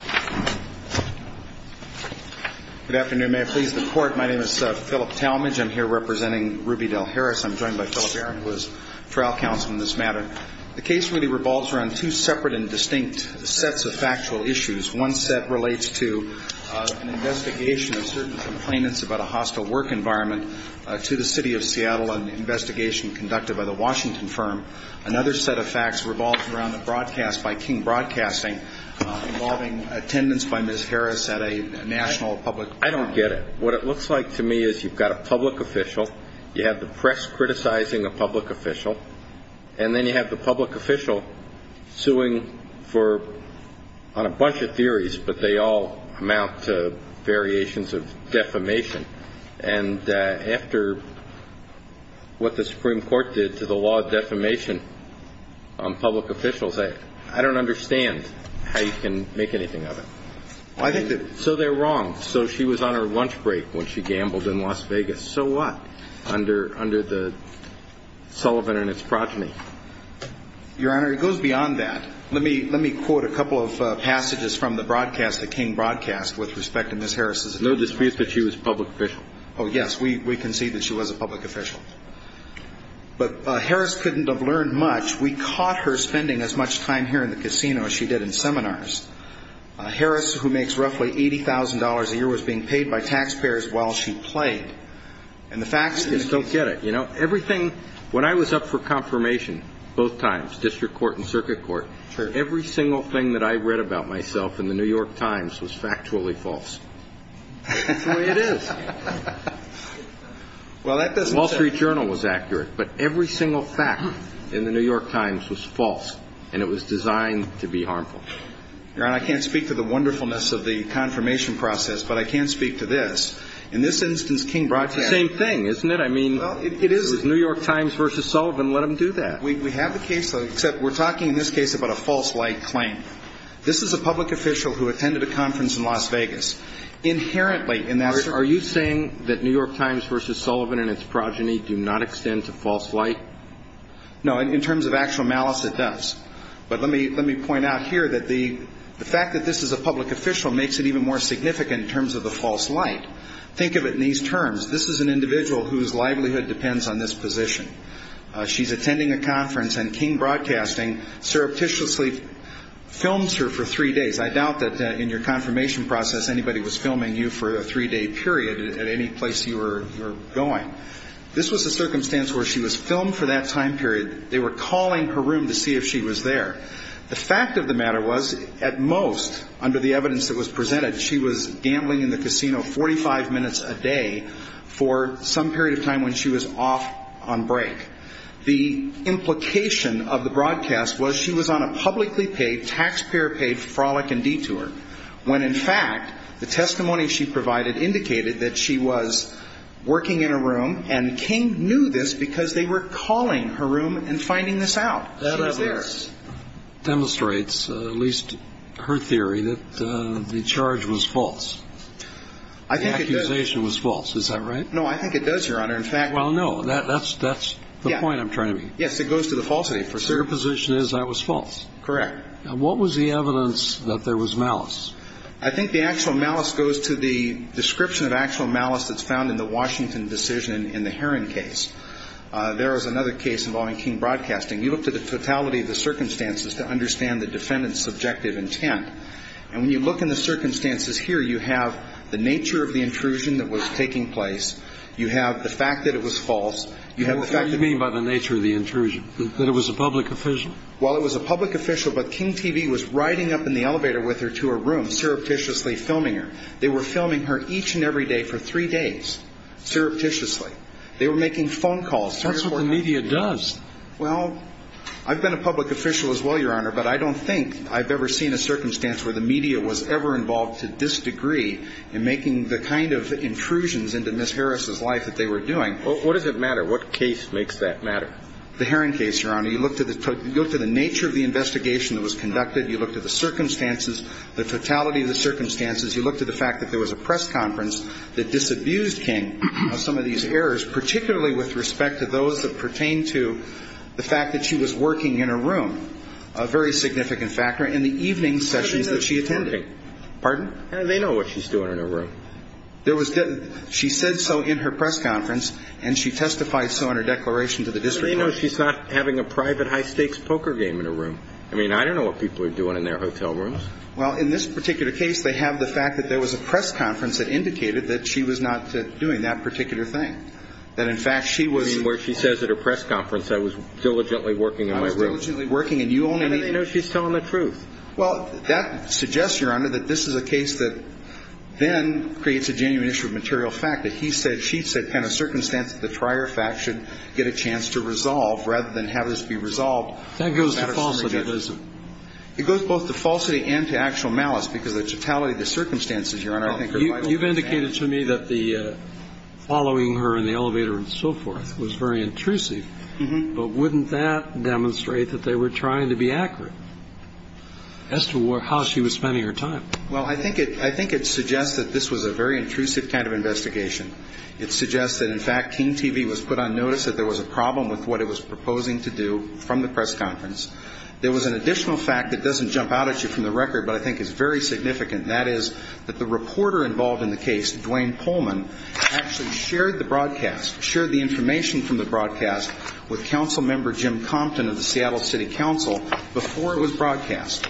Good afternoon. May I please the court. My name is Philip Talmadge. I'm here representing Ruby Dell Harris. I'm joined by Philip Aaron, who is trial counsel in this matter. The case really revolves around two separate and distinct sets of factual issues. One set relates to an investigation of certain complainants about a hostile work environment to the City of Seattle, an investigation conducted by the Washington firm. Another set of facts revolves around the broadcast by King Broadcasting involving attendance by Ms. Harris at a national public forum. I don't get it. What it looks like to me is you've got a public official, you have the press criticizing a public official, and then you have the public official suing on a bunch of theories, but they all amount to variations of defamation. And after what the Supreme Court did to the law of defamation on public officials, I don't understand how you can make anything of it. I think that So they're wrong. So she was on her lunch break when she gambled in Las Vegas. So what? Under the Sullivan and its progeny. Your Honor, it goes beyond that. Let me quote a couple of passages from the broadcast that King broadcast with respect to Ms. Harris' No dispute that she was a public official. Oh, yes, we concede that she was a public official. But Harris couldn't have learned much. We caught her spending as much time here in the casino as she did in seminars. Harris, who makes roughly $80,000 a year, was being paid by taxpayers while she played. I just don't get it. You know, everything when I was up for confirmation, both times, district court and circuit court, every single thing that I read about myself in The New York Times was factually false. That's the way it is. Well, that doesn't say The Wall Street Journal was accurate, but every single fact in The New York Times was false, and it was designed to be harmful. Your Honor, I can't speak to the wonderfulness of the confirmation process, but I can speak to this. In this instance, King broadcast It's the same thing, isn't it? I mean, New York Times versus Sullivan, let them do that. We have the case, except we're talking in this case about a false light claim. This is a public official who attended a conference in Las Vegas. Inherently, in that Are you saying that New York Times versus Sullivan and its progeny do not extend to false light? No, in terms of actual malice, it does. But let me point out here that the fact that this is a public official makes it even more significant in terms of the false light. Think of it in these terms. This is an individual whose livelihood depends on this position. She's attending a conference, and King Broadcasting surreptitiously films her for three days. I doubt that in your confirmation process anybody was filming you for a three-day period at any place you were going. This was a circumstance where she was filmed for that time period. They were calling her room to see if she was there. The fact of the matter was, at most, under the evidence that was presented, she was gambling in the casino 45 minutes a day for some period of time when she was off on break. The implication of the broadcast was she was on a publicly paid, taxpayer-paid frolic and detour, when, in fact, the testimony she provided indicated that she was working in a room, and King knew this because they were calling her room and finding this out. She was there. That demonstrates, at least her theory, that the charge was false. I think it does. The accusation was false. Is that right? No, I think it does, Your Honor. In fact – Well, no. That's the point I'm trying to make. Yes, it goes to the falsity, for certain. Your position is that was false. Correct. What was the evidence that there was malice? I think the actual malice goes to the description of actual malice that's found in the Washington decision in the Heron case. There was another case involving King Broadcasting. You looked at the totality of the circumstances to understand the defendant's subjective intent. And when you look in the circumstances here, you have the nature of the intrusion that was taking place. You have the fact that it was false. You have the fact that – What do you mean by the nature of the intrusion, that it was a public official? Well, it was a public official, but King TV was riding up in the elevator with her to her room, surreptitiously filming her. They were filming her each and every day for three days, surreptitiously. They were making phone calls. That's what the media does. Well, I've been a public official as well, Your Honor, but I don't think I've ever seen a circumstance where the media was ever involved to this degree in making the kind of intrusions into Ms. Harris's life that they were doing. What does it matter? What case makes that matter? The Heron case, Your Honor. You looked at the nature of the investigation that was conducted. You looked at the circumstances, the totality of the circumstances. You looked at the fact that there was a press conference that disabused King of some of these errors, particularly with respect to those that pertain to the fact that she was working in her room, a very significant factor, in the evening sessions that she attended. Pardon? They know what she's doing in her room. There was – she said so in her press conference, and she testified so in her declaration to the district court. How do they know she's not having a private high-stakes poker game in her room? I mean, I don't know what people are doing in their hotel rooms. Well, in this particular case, they have the fact that there was a press conference that indicated that she was not doing that particular thing, that in fact she was – I mean, where she says at her press conference, I was diligently working in my room. I was diligently working, and you only need – How do they know she's telling the truth? Well, that suggests, Your Honor, that this is a case that then creates a genuine issue of material fact, that he said, she said, kind of circumstance that the prior fact should get a chance to resolve, rather than have this be resolved. That goes to falsity, doesn't it? It goes both to falsity and to actual malice, because the totality of the circumstances, Your Honor, I think are vital. You've indicated to me that the following her in the elevator and so forth was very intrusive. But wouldn't that demonstrate that they were trying to be accurate as to how she was spending her time? Well, I think it suggests that this was a very intrusive kind of investigation. It suggests that, in fact, KEEN TV was put on notice that there was a problem with what it was proposing to do from the press conference. There was an additional fact that doesn't jump out at you from the record, but I think is very significant, and that is that the reporter involved in the case, Duane Pullman, actually shared the broadcast, shared the information from the broadcast with Councilmember Jim Compton of the Seattle City Council before it was broadcast,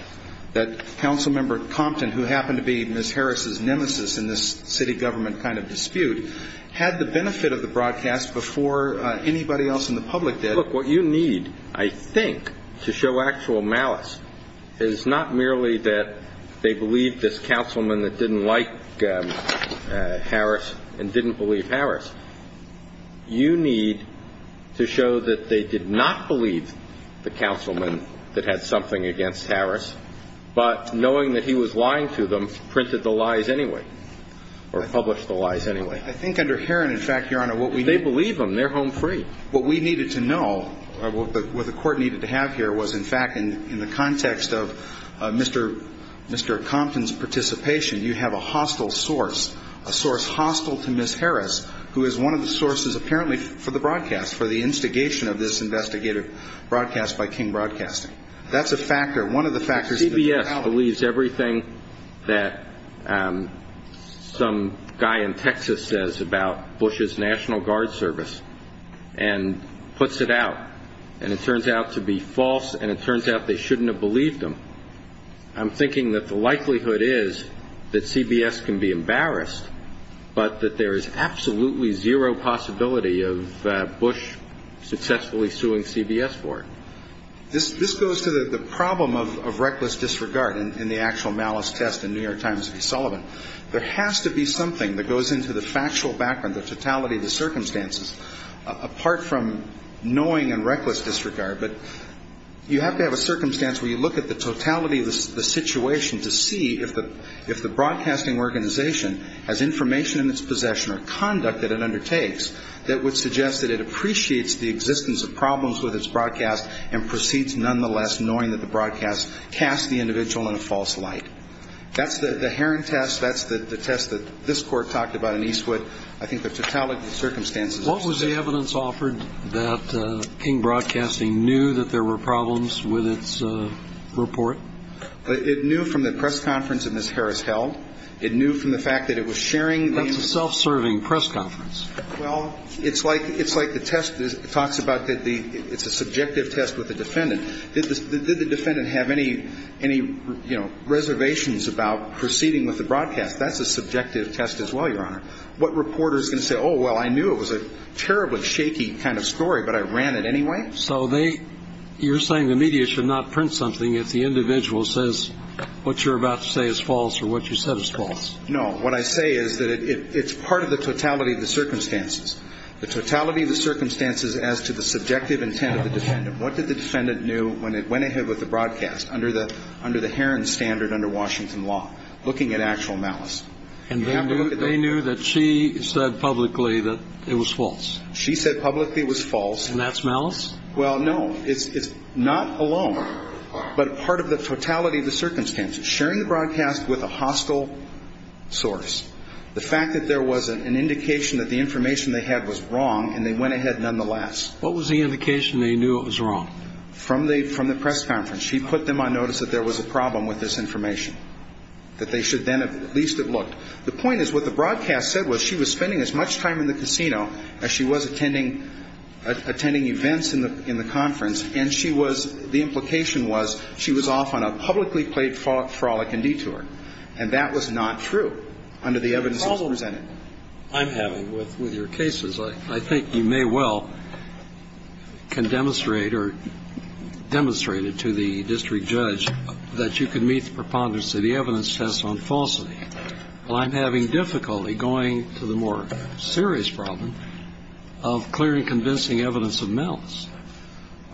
that Councilmember Compton, who happened to be Ms. Harris' nemesis in this city government kind of dispute, had the benefit of the broadcast before anybody else in the public did. Look, what you need, I think, to show actual malice is not merely that they believed this councilman that didn't like Harris and didn't believe Harris. You need to show that they did not believe the councilman that had something against Harris, but knowing that he was lying to them, printed the lies anyway, or published the lies anyway. I think under Herron, in fact, Your Honor, what we need to know. They believe him. They're home free. What we needed to know, what the Court needed to have here was, in fact, in the context of Mr. Compton's participation, you have a hostile source, a source hostile to Ms. Harris, who is one of the sources, apparently, for the broadcast, for the instigation of this investigative broadcast by King Broadcasting. That's a factor, one of the factors. If CBS believes everything that some guy in Texas says about Bush's National Guard service and puts it out, and it turns out to be false and it turns out they shouldn't have believed him, I'm thinking that the likelihood is that CBS can be embarrassed, but that there is absolutely zero possibility of Bush successfully suing CBS for it. This goes to the problem of reckless disregard in the actual malice test in New York Times v. Sullivan. There has to be something that goes into the factual background, the totality of the circumstances, apart from knowing and reckless disregard. But you have to have a circumstance where you look at the totality of the situation to see if the broadcasting organization has information in its possession or conduct that it undertakes that would suggest that it appreciates the existence of problems with its broadcast and proceeds nonetheless knowing that the broadcast cast the individual in a false light. That's the Heron test. That's the test that this Court talked about in Eastwood. I think the totality of the circumstances. What was the evidence offered that King Broadcasting knew that there were problems with its report? It knew from the press conference that Ms. Harris held. It knew from the fact that it was sharing the- That's a self-serving press conference. Well, it's like the test talks about that it's a subjective test with the defendant. Did the defendant have any reservations about proceeding with the broadcast? That's a subjective test as well, Your Honor. What reporter is going to say, oh, well, I knew it was a terribly shaky kind of story, but I ran it anyway? So you're saying the media should not print something if the individual says what you're about to say is false or what you said is false? No. What I say is that it's part of the totality of the circumstances, the totality of the circumstances as to the subjective intent of the defendant. What did the defendant knew when it went ahead with the broadcast under the Heron standard under Washington law, looking at actual malice? And they knew that she said publicly that it was false. She said publicly it was false. And that's malice? Well, no. It's not alone, but part of the totality of the circumstances. Sharing the broadcast with a hostile source, the fact that there was an indication that the information they had was wrong and they went ahead nonetheless. What was the indication they knew it was wrong? From the press conference. She put them on notice that there was a problem with this information, that they should then at least have looked. The point is what the broadcast said was she was spending as much time in the casino as she was attending events in the conference. And she was the implication was she was off on a publicly played frolic and detour. And that was not true under the evidence that was presented. The problem I'm having with your case is I think you may well can demonstrate or demonstrated to the district judge that you can meet the preponderance of the evidence test on falsity. Well, I'm having difficulty going to the more serious problem of clearing convincing evidence of malice.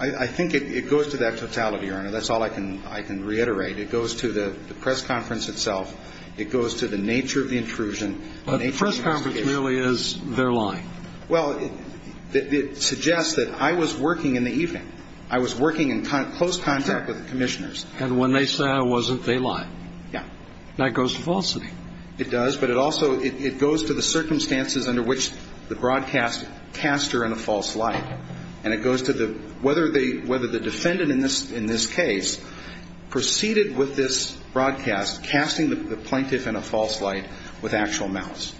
I think it goes to that totality, Your Honor. That's all I can reiterate. It goes to the press conference itself. It goes to the nature of the intrusion. But the press conference really is their line. Well, it suggests that I was working in the evening. I was working in close contact with the commissioners. And when they say I wasn't, they lie. Yeah. And that goes to falsity. It does. But it also goes to the circumstances under which the broadcast cast her in a false light. And it goes to whether the defendant in this case proceeded with this broadcast, casting the plaintiff in a false light with actual malice.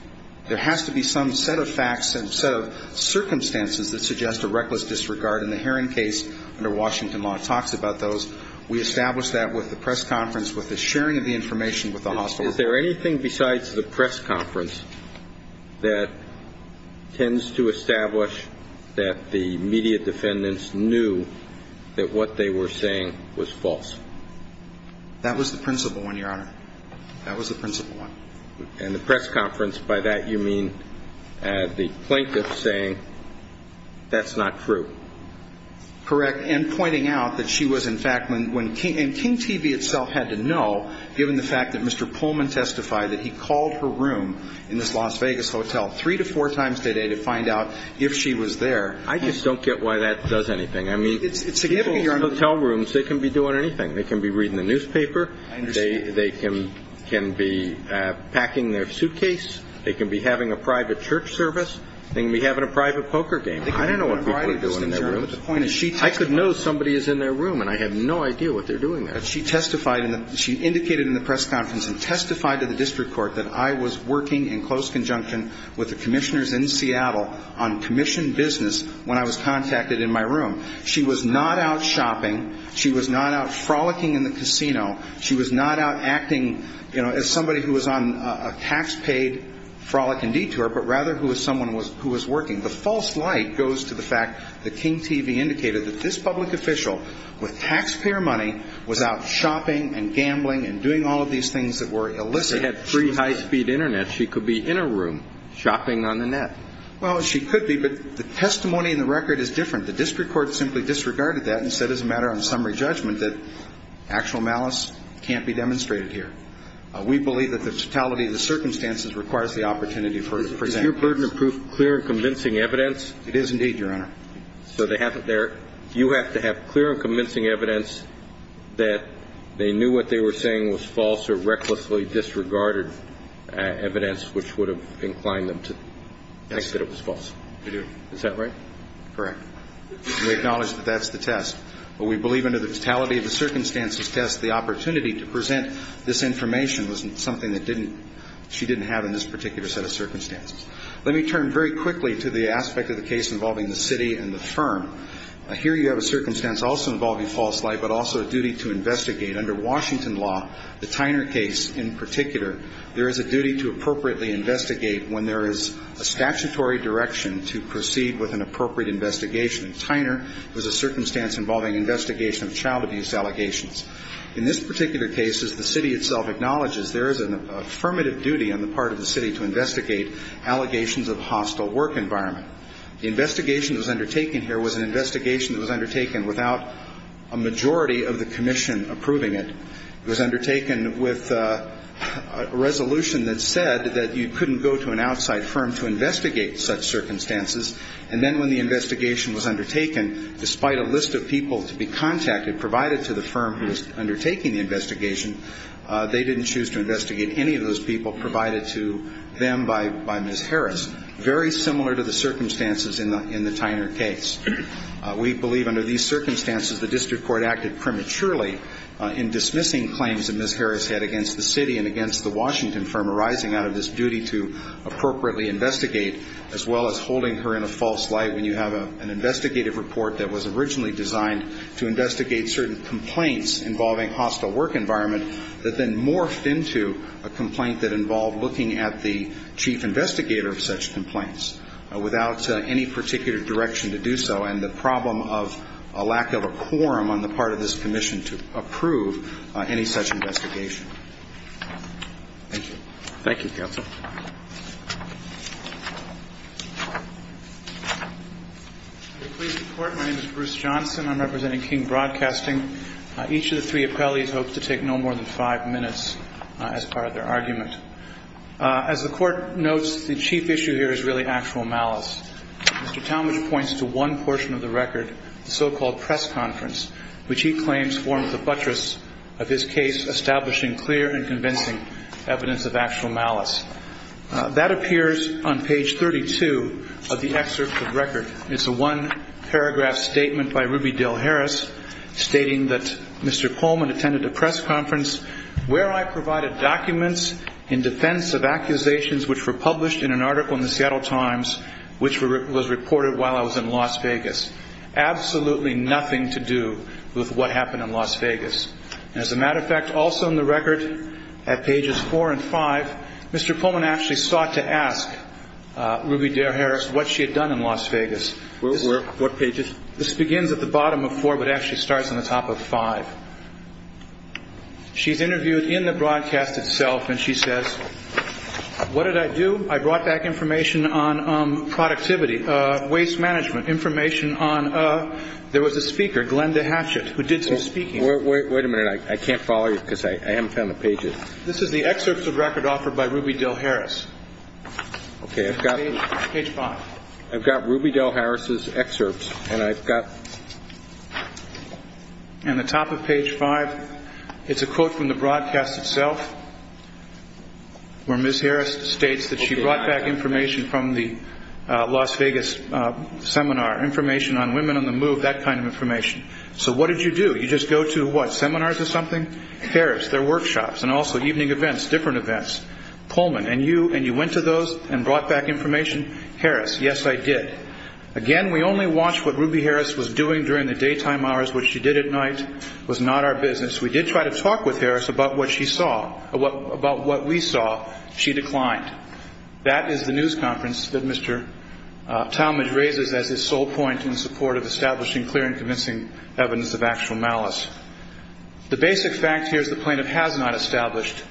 There has to be some set of facts and set of circumstances that suggest a reckless disregard. And the Heron case under Washington law talks about those. We established that with the press conference, with the sharing of the information with the hospital. Is there anything besides the press conference that tends to establish that the media defendants knew that what they were saying was false? That was the principal one, Your Honor. That was the principal one. And the press conference, by that you mean the plaintiff saying that's not true. Correct. And pointing out that she was, in fact, when King TV itself had to know, given the fact that Mr. Pullman testified that he called her room in this Las Vegas hotel three to four times today to find out if she was there. I just don't get why that does anything. I mean, hotel rooms, they can be doing anything. They can be reading the newspaper. I understand. They can be packing their suitcase. They can be having a private church service. They can be having a private poker game. I don't know what people are doing in their rooms. I could know somebody is in their room, and I have no idea what they're doing there. She testified in the ñ she indicated in the press conference and testified to the district court that I was working in close conjunction with the commissioners in Seattle on commission business when I was contacted in my room. She was not out shopping. She was not out frolicking in the casino. She was not out acting, you know, as somebody who was on a tax-paid frolic and detour, but rather who was someone who was working. The false light goes to the fact that King TV indicated that this public official with taxpayer money was out shopping and gambling and doing all of these things that were illicit. She had free high-speed Internet. She could be in her room shopping on the net. Well, she could be, but the testimony in the record is different. The district court simply disregarded that and said, as a matter of summary judgment, that actual malice can't be demonstrated here. We believe that the totality of the circumstances requires the opportunity for example. Is your burden of proof clear and convincing evidence? It is indeed, Your Honor. So you have to have clear and convincing evidence that they knew what they were saying was false or recklessly disregarded evidence which would have inclined them to think that it was false. I do. Is that right? Correct. We acknowledge that that's the test. But we believe under the totality of the circumstances test the opportunity to present this information was something that she didn't have in this particular set of circumstances. Let me turn very quickly to the aspect of the case involving the city and the firm. Here you have a circumstance also involving false light, but also a duty to investigate. Under Washington law, the Tyner case in particular, there is a duty to appropriately investigate when there is a statutory direction to proceed with an appropriate investigation. Tyner was a circumstance involving investigation of child abuse allegations. In this particular case, as the city itself acknowledges, there is an affirmative duty on the part of the city to investigate allegations of hostile work environment. The investigation that was undertaken here was an investigation that was undertaken without a majority of the commission approving it. It was undertaken with a resolution that said that you couldn't go to an outside firm to investigate such circumstances. And then when the investigation was undertaken, despite a list of people to be contacted provided to the firm who was undertaking the investigation, they didn't choose to investigate any of those people provided to them by Ms. Harris, very similar to the circumstances in the Tyner case. We believe under these circumstances the district court acted prematurely in dismissing claims that Ms. Harris had against the city and against the Washington firm arising out of this duty to appropriately investigate, as well as holding her in a false light when you have an investigative report that was originally designed to investigate certain complaints involving hostile work environment that then morphed into a complaint that involved looking at the chief investigator of such complaints without any particular direction to do so and the problem of a lack of a quorum on the part of this commission to approve any such investigation. Thank you. Thank you, counsel. Please report. My name is Bruce Johnson. I'm representing King Broadcasting. Each of the three appellees hopes to take no more than five minutes as part of their argument. As the court notes, the chief issue here is really actual malice. Mr. Talmadge points to one portion of the record, the so-called press conference, which he claims formed the buttress of his case establishing clear and convincing evidence of actual malice. That appears on page 32 of the excerpt of the record. It's a one-paragraph statement by Ruby Dale Harris stating that Mr. Pullman attended a press conference where I provided documents in defense of accusations which were published in an article in the Seattle Times which was reported while I was in Las Vegas. Absolutely nothing to do with what happened in Las Vegas. As a matter of fact, also in the record at pages four and five, Mr. Pullman actually sought to ask Ruby Dale Harris what she had done in Las Vegas. What pages? This begins at the bottom of four but actually starts on the top of five. She's interviewed in the broadcast itself, and she says, what did I do? I brought back information on productivity, waste management, information on a – there was a speaker, Glenda Hatchett, who did some speaking. Wait a minute. I can't follow you because I haven't found the pages. This is the excerpt of the record offered by Ruby Dale Harris. Okay, I've got – Page five. I've got Ruby Dale Harris' excerpts, and I've got – And the top of page five, it's a quote from the broadcast itself where Ms. Harris states that she brought back information from the Las Vegas seminar, information on women on the move, that kind of information. So what did you do? You just go to what, seminars or something? Harris, their workshops, and also evening events, different events. Pullman, and you went to those and brought back information? Harris, yes, I did. Again, we only watched what Ruby Harris was doing during the daytime hours. What she did at night was not our business. We did try to talk with Harris about what she saw, about what we saw. She declined. That is the news conference that Mr. Talmadge raises as his sole point in support of establishing clear and convincing evidence of actual malice. The basic fact here is the plaintiff has not established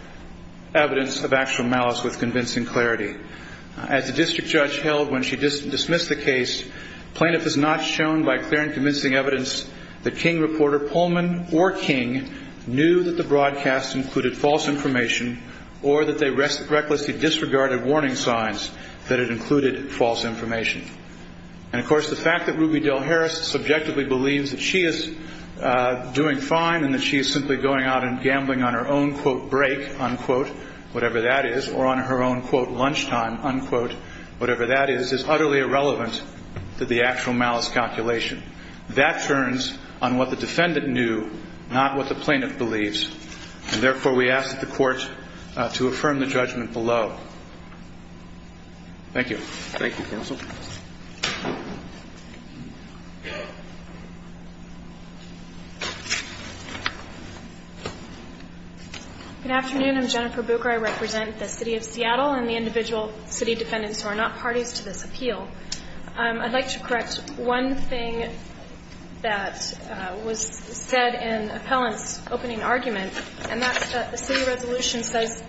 evidence of actual malice with convincing clarity. As the district judge held when she dismissed the case, the plaintiff has not shown by clear and convincing evidence that King reporter Pullman or King knew that the broadcast included false information or that they recklessly disregarded warning signs that it included false information. And, of course, the fact that Ruby Dale Harris subjectively believes that she is doing fine and that she is simply going out and gambling on her own, quote, break, unquote, whatever that is, or on her own, quote, lunchtime, unquote, whatever that is, is utterly irrelevant to the actual malice calculation. That turns on what the defendant knew, not what the plaintiff believes. And, therefore, we ask that the court to affirm the judgment below. Thank you. Thank you, counsel. Good afternoon. I'm Jennifer Bucher. I represent the city of Seattle and the individual city defendants who are not parties to this appeal. I'd like to correct one thing that was said in the appellant's opening argument, and that's that the city resolution says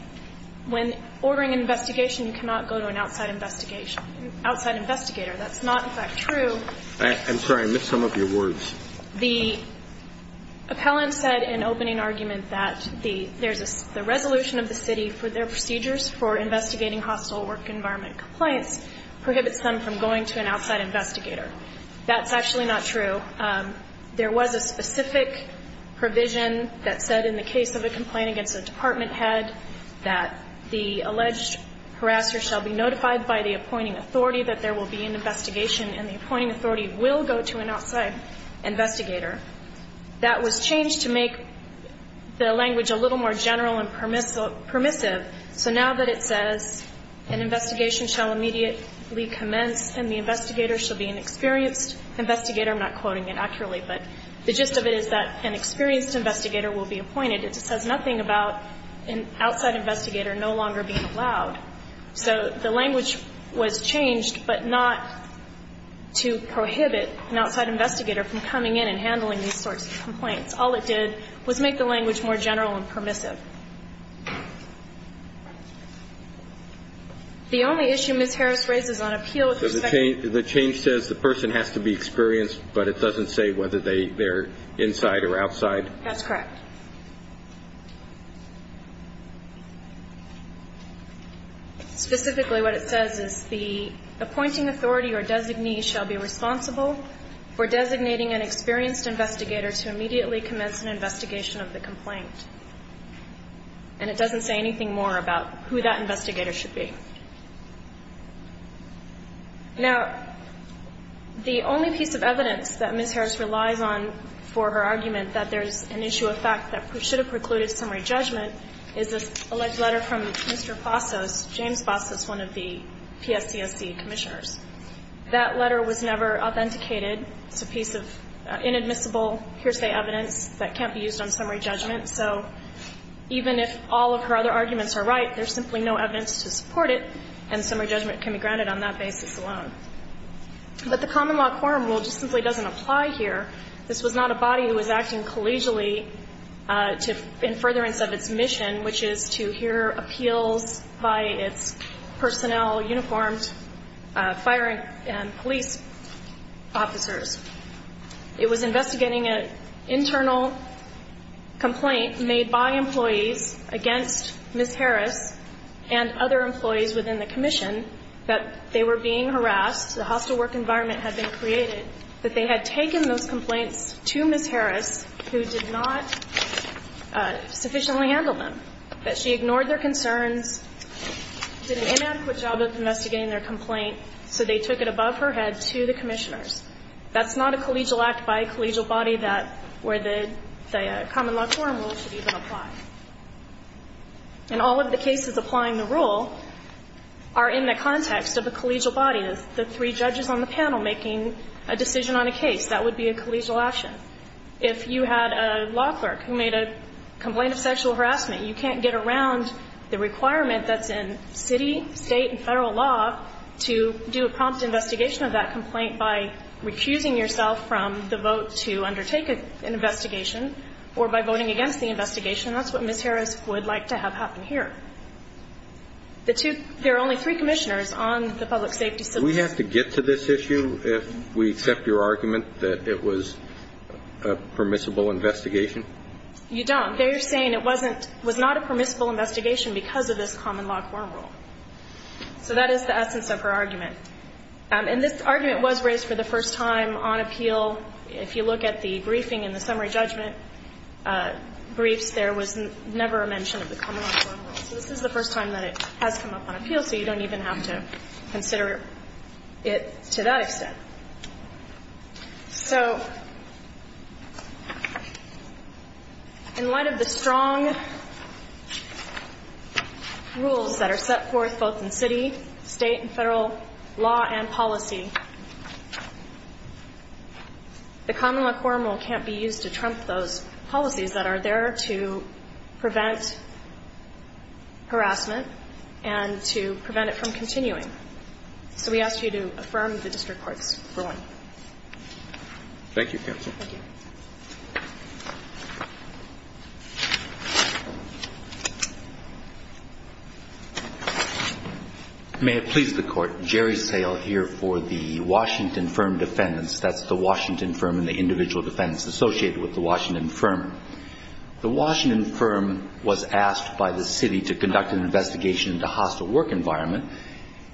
when ordering an investigation, you cannot go to an outside investigation, outside investigator. That's not, in fact, true. I'm sorry. I missed some of your words. The appellant said in opening argument that the resolution of the city for their procedures for investigating hostile work environment complaints prohibits them from going to an outside investigator. That's actually not true. So there was a specific provision that said in the case of a complaint against a department head that the alleged harasser shall be notified by the appointing authority that there will be an investigation and the appointing authority will go to an outside investigator. That was changed to make the language a little more general and permissive. So now that it says an investigation shall immediately commence and the investigator shall be an experienced investigator, I'm not quoting it accurately, but the gist of it is that an experienced investigator will be appointed. It just says nothing about an outside investigator no longer being allowed. So the language was changed, but not to prohibit an outside investigator from coming in and handling these sorts of complaints. All it did was make the language more general and permissive. The only issue Ms. Harris raises on appeal with respect to the change in the language is the person has to be experienced, but it doesn't say whether they're inside or outside. That's correct. Specifically what it says is the appointing authority or designee shall be responsible for designating an experienced investigator to immediately commence an investigation of the complaint. And it doesn't say anything more about who that investigator should be. Now, the only piece of evidence that Ms. Harris relies on for her argument that there's an issue of fact that should have precluded summary judgment is this alleged letter from Mr. Bastos, James Bastos, one of the PSCSC commissioners. That letter was never authenticated. It's a piece of inadmissible hearsay evidence that can't be used on summary judgment. So even if all of her other arguments are right, there's simply no evidence to support it, and summary judgment can be granted on that basis alone. But the common law quorum rule just simply doesn't apply here. This was not a body who was acting collegially in furtherance of its mission, which is to hear appeals by its personnel, uniforms, fire and police officers. It was investigating an internal complaint made by employees against Ms. Harris and other employees within the commission that they were being harassed, the hostile work environment had been created, that they had taken those complaints to Ms. Harris who did not sufficiently handle them, that she ignored their concerns, did an inadequate job of investigating their complaint, so they took it above her head to the commissioners. That's not a collegial act by a collegial body where the common law quorum rule should even apply. And all of the cases applying the rule are in the context of a collegial body, the three judges on the panel making a decision on a case. That would be a collegial action. If you had a law clerk who made a complaint of sexual harassment, you can't get around the requirement that's in city, state and Federal law to do a prompt investigation of that complaint by refusing yourself from the vote to undertake an investigation or by voting against the investigation. That's what Ms. Harris would like to have happen here. The two – there are only three commissioners on the public safety system. Do we have to get to this issue if we accept your argument that it was a permissible investigation? You don't. They're saying it wasn't – was not a permissible investigation because of this common law quorum rule. So that is the essence of her argument. And this argument was raised for the first time on appeal. If you look at the briefing and the summary judgment briefs, there was never a mention of the common law quorum rule. So this is the first time that it has come up on appeal, so you don't even have to consider it to that extent. So in light of the strong rules that are set forth both in city, state and Federal law and policy, the common law quorum rule can't be used to trump those policies that are there to prevent harassment and to prevent it from continuing. So we ask you to affirm the district courts for one. Thank you, counsel. Thank you. May it please the Court. Jerry Sale here for the Washington Firm defendants. That's the Washington Firm and the individual defendants associated with the Washington Firm. The Washington Firm was asked by the city to conduct an investigation into hostile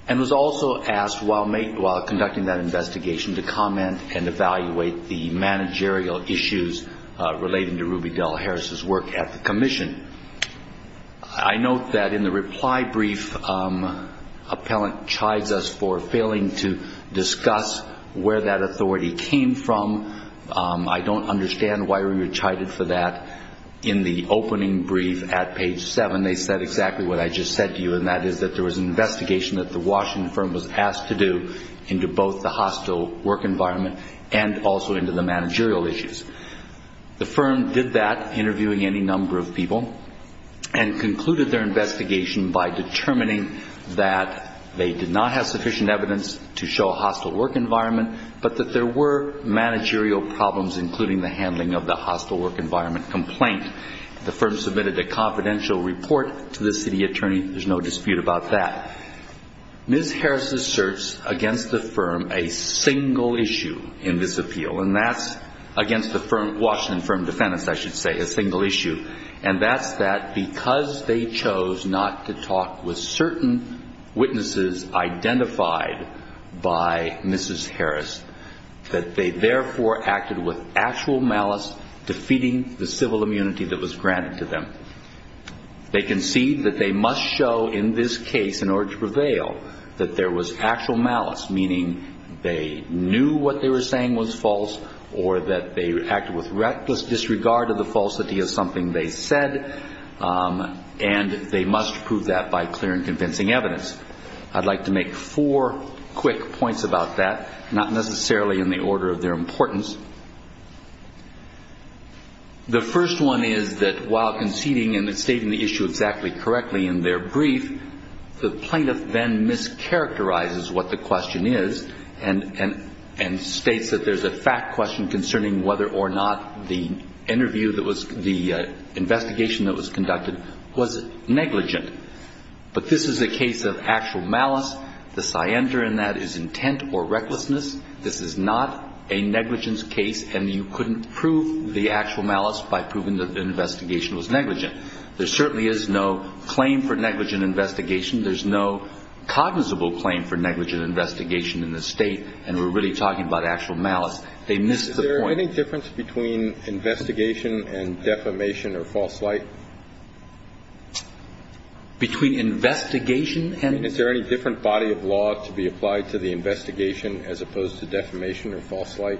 and was also asked while conducting that investigation to comment and evaluate the managerial issues relating to Ruby Dell Harris' work at the commission. I note that in the reply brief, appellant chides us for failing to discuss where that authority came from. I don't understand why you were chided for that. In the opening brief at page 7, they said exactly what I just said to you, and that is that there was an investigation that the Washington Firm was asked to do into both the hostile work environment and also into the managerial issues. The firm did that, interviewing any number of people, and concluded their investigation by determining that they did not have sufficient evidence to show a hostile work environment but that there were managerial problems, including the handling of the hostile work environment complaint. The firm submitted a confidential report to the city attorney. There's no dispute about that. Ms. Harris asserts against the firm a single issue in this appeal, and that's against the Washington Firm defendants, I should say, a single issue, and that's that because they chose not to talk with certain witnesses identified by Mrs. Harris, that they therefore acted with actual malice, defeating the civil immunity that was granted to them. They concede that they must show in this case, in order to prevail, that there was actual malice, meaning they knew what they were saying was false or that they acted with reckless disregard of the falsity of something they said, and they must prove that by clear and convincing evidence. I'd like to make four quick points about that, not necessarily in the order of their importance. The first one is that while conceding and stating the issue exactly correctly in their brief, the plaintiff then mischaracterizes what the question is and states that there's a fact question concerning whether or not the interview that was the investigation that was conducted was negligent. But this is a case of actual malice. The cyander in that is intent or recklessness. This is not a negligence case, and you couldn't prove the actual malice by proving that the investigation was negligent. There certainly is no claim for negligent investigation. There's no cognizable claim for negligent investigation in this State, and we're really talking about actual malice. They missed the point. Is there any difference between investigation and defamation or false light? Between investigation and? I mean, is there any different body of law to be applied to the investigation as opposed to defamation or false light?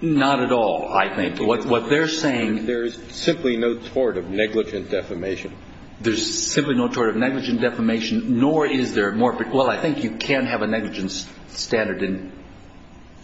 Not at all, I think. What they're saying. There is simply no tort of negligent defamation. There's simply no tort of negligent defamation, nor is there more. Well, I think you can have a negligence standard in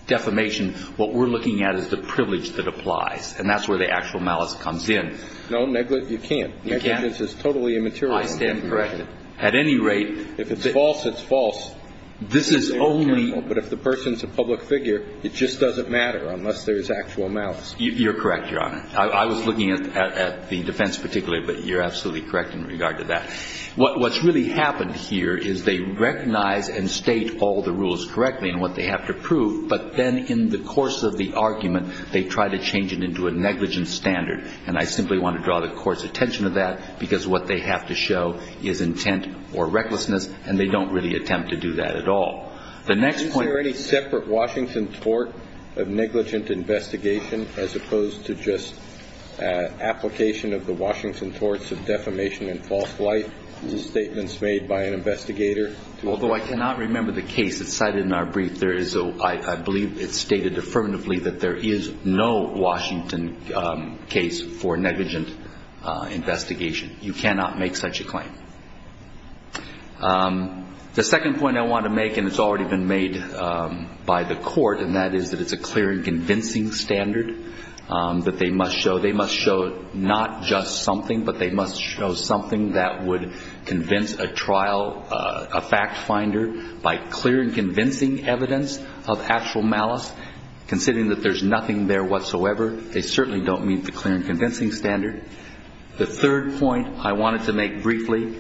defamation. What we're looking at is the privilege that applies, and that's where the actual malice comes in. No, you can't. Negligence is totally immaterial. I stand corrected. At any rate, if it's false, it's false. This is only. But if the person's a public figure, it just doesn't matter unless there's actual malice. You're correct, Your Honor. I was looking at the defense particularly, but you're absolutely correct in regard to that. What's really happened here is they recognize and state all the rules correctly and what they have to prove, but then in the course of the argument, they try to change it into a negligence standard, and I simply want to draw the court's attention to that because what they have to show is intent or recklessness, and they don't really attempt to do that at all. The next point. Is there any separate Washington tort of negligent investigation as opposed to just application of the Washington torts of defamation and false light? Are these statements made by an investigator? Although I cannot remember the case that's cited in our brief, I believe it's stated affirmatively that there is no Washington case for negligent investigation. You cannot make such a claim. The second point I want to make, and it's already been made by the court, and that is that it's a clear and convincing standard that they must show. They must show not just something, but they must show something that would convince a trial, a fact finder, by clear and convincing evidence of actual malice. Considering that there's nothing there whatsoever, they certainly don't meet the clear and convincing standard. The third point I wanted to make briefly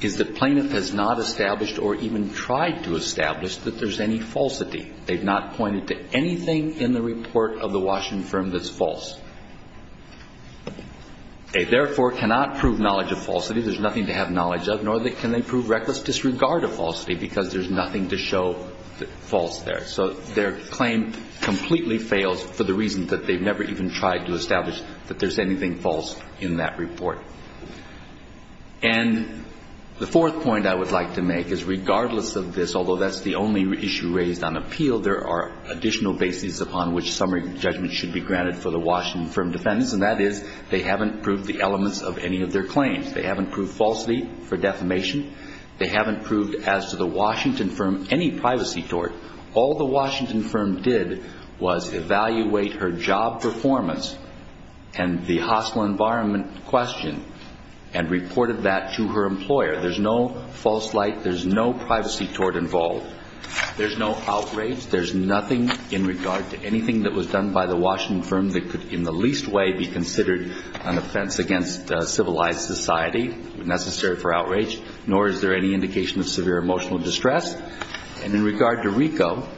is that Plaintiff has not established or even tried to establish that there's any falsity. They've not pointed to anything in the report of the Washington firm that's false. They, therefore, cannot prove knowledge of falsity. There's nothing to have knowledge of, nor can they prove reckless disregard of falsity because there's nothing to show false there. So their claim completely fails for the reason that they've never even tried to establish that there's anything false in that report. And the fourth point I would like to make is regardless of this, although that's the only issue raised on appeal, there are additional bases upon which summary judgment should be granted for the Washington firm defendants, and that is they haven't proved the elements of any of their claims. They haven't proved falsity for defamation. They haven't proved as to the Washington firm any privacy tort. All the Washington firm did was evaluate her job performance and the hospital environment question and reported that to her employer. There's no false light. There's no privacy tort involved. There's no outrage. There's nothing in regard to anything that was done by the Washington firm that could in the least way be considered an offense against civilized society, necessary for outrage, nor is there any indication of severe emotional distress. And in regard to RICO,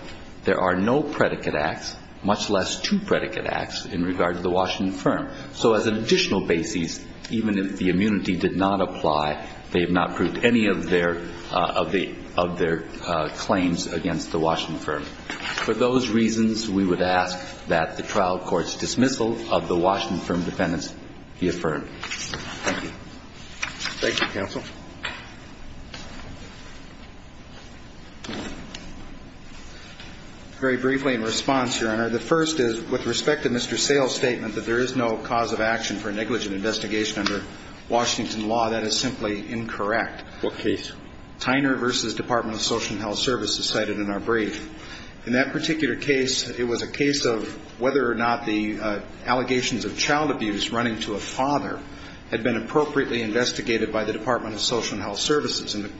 there are no predicate acts, much less two predicate acts in regard to the Washington firm. So as an additional basis, even if the immunity did not apply, they have not proved any of their claims against the Washington firm. For those reasons, we would ask that the trial court's dismissal of the Washington firm defendants be affirmed. Thank you. Thank you, counsel. Very briefly in response, Your Honor. The first is with respect to Mr. Sale's statement that there is no cause of action for negligent investigation under Washington law, that is simply incorrect. What case? Tyner v. Department of Social and Health Services cited in our brief. In that particular case, it was a case of whether or not the allegations of child abuse running to a father had been appropriately investigated by the Department of Social and Health Services. And the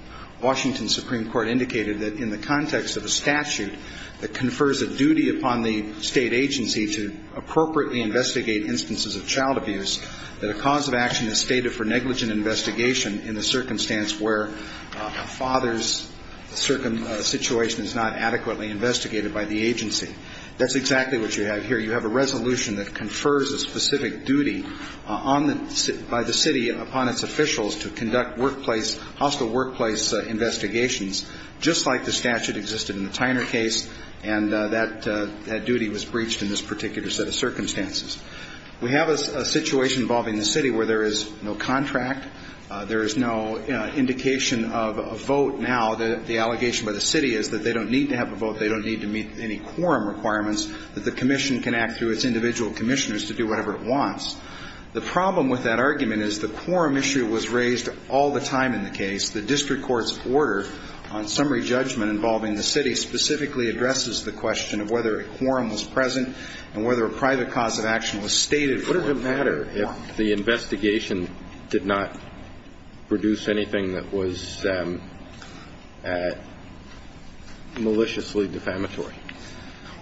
Washington Supreme Court indicated that in the context of a statute that confers a duty upon the state agency to appropriately investigate instances of child abuse, that a cause of action is stated for negligent investigation in the circumstance where a father's situation is not adequately investigated by the agency. That's exactly what you have here. You have a resolution that confers a specific duty by the city upon its officials to conduct workplace, hostile workplace investigations, just like the statute existed in the Tyner case, and that duty was breached in this particular set of circumstances. We have a situation involving the city where there is no contract, there is no indication of a vote now. The allegation by the city is that they don't need to have a vote, they don't need to meet any quorum requirements, that the commission can act through its individual commissioners to do whatever it wants. The problem with that argument is the quorum issue was raised all the time in the case. The district court's order on summary judgment involving the city specifically addresses the question of whether a quorum was present and whether a private cause of action was stated for it. What would it matter if the investigation did not produce anything that was maliciously defamatory?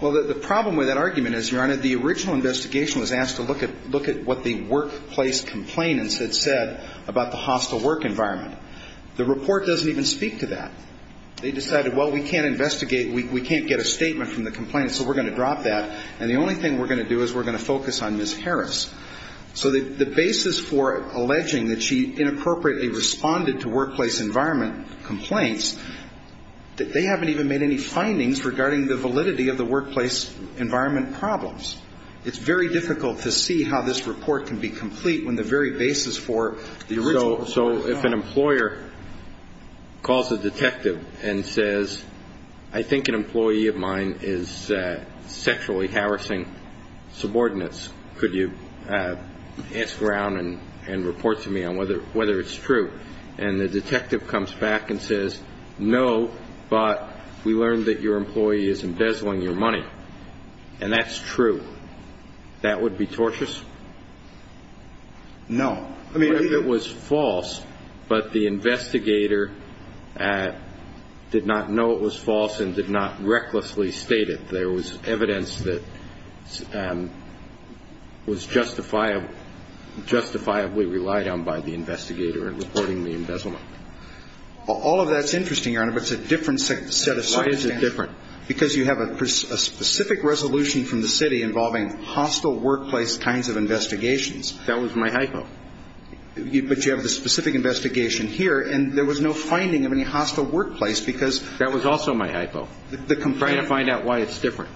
Well, the problem with that argument is, Your Honor, the original investigation was asked to look at what the workplace complainants had said about the hostile work environment. The report doesn't even speak to that. They decided, well, we can't investigate, we can't get a statement from the complainants, so we're going to drop that, and the only thing we're going to do is we're going to focus on Ms. Harris. So the basis for alleging that she inappropriately responded to workplace environment complaints, they haven't even made any findings regarding the validity of the workplace environment problems. It's very difficult to see how this report can be complete when the very basis for the original report. If a lawyer calls a detective and says, I think an employee of mine is sexually harassing subordinates, could you ask around and report to me on whether it's true, and the detective comes back and says, no, but we learned that your employee is embezzling your money, and that's true, that would be tortious? No. It was false, but the investigator did not know it was false and did not recklessly state it. There was evidence that was justifiably relied on by the investigator in reporting the embezzlement. All of that's interesting, Your Honor, but it's a different set of circumstances. Why is it different? Because you have a specific resolution from the city involving hostile workplace kinds of investigations. That was my hypo. But you have the specific investigation here, and there was no finding of any hostile workplace because the complaint. That was also my hypo, trying to find out why it's different.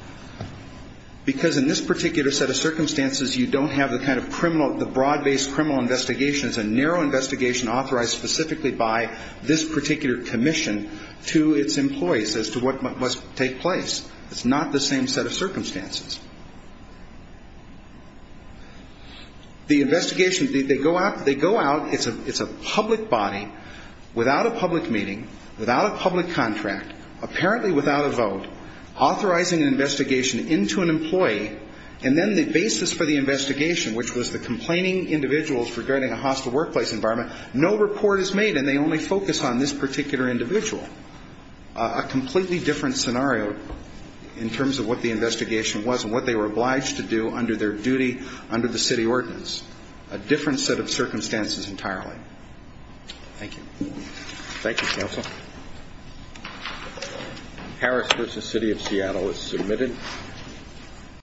Because in this particular set of circumstances, you don't have the kind of criminal, the broad-based criminal investigations, a narrow investigation authorized specifically by this particular commission to its employees as to what must take place. It's not the same set of circumstances. The investigation, they go out, it's a public body without a public meeting, without a public contract, apparently without a vote, authorizing an investigation into an employee, and then the basis for the investigation, which was the complaining individuals regarding a hostile workplace environment, no report is made, and they only focus on this particular individual. A completely different scenario in terms of what the investigation was and what they were obliged to do under their duty under the city ordinance. A different set of circumstances entirely. Thank you. Thank you, Counsel. Harris v. City of Seattle is submitted.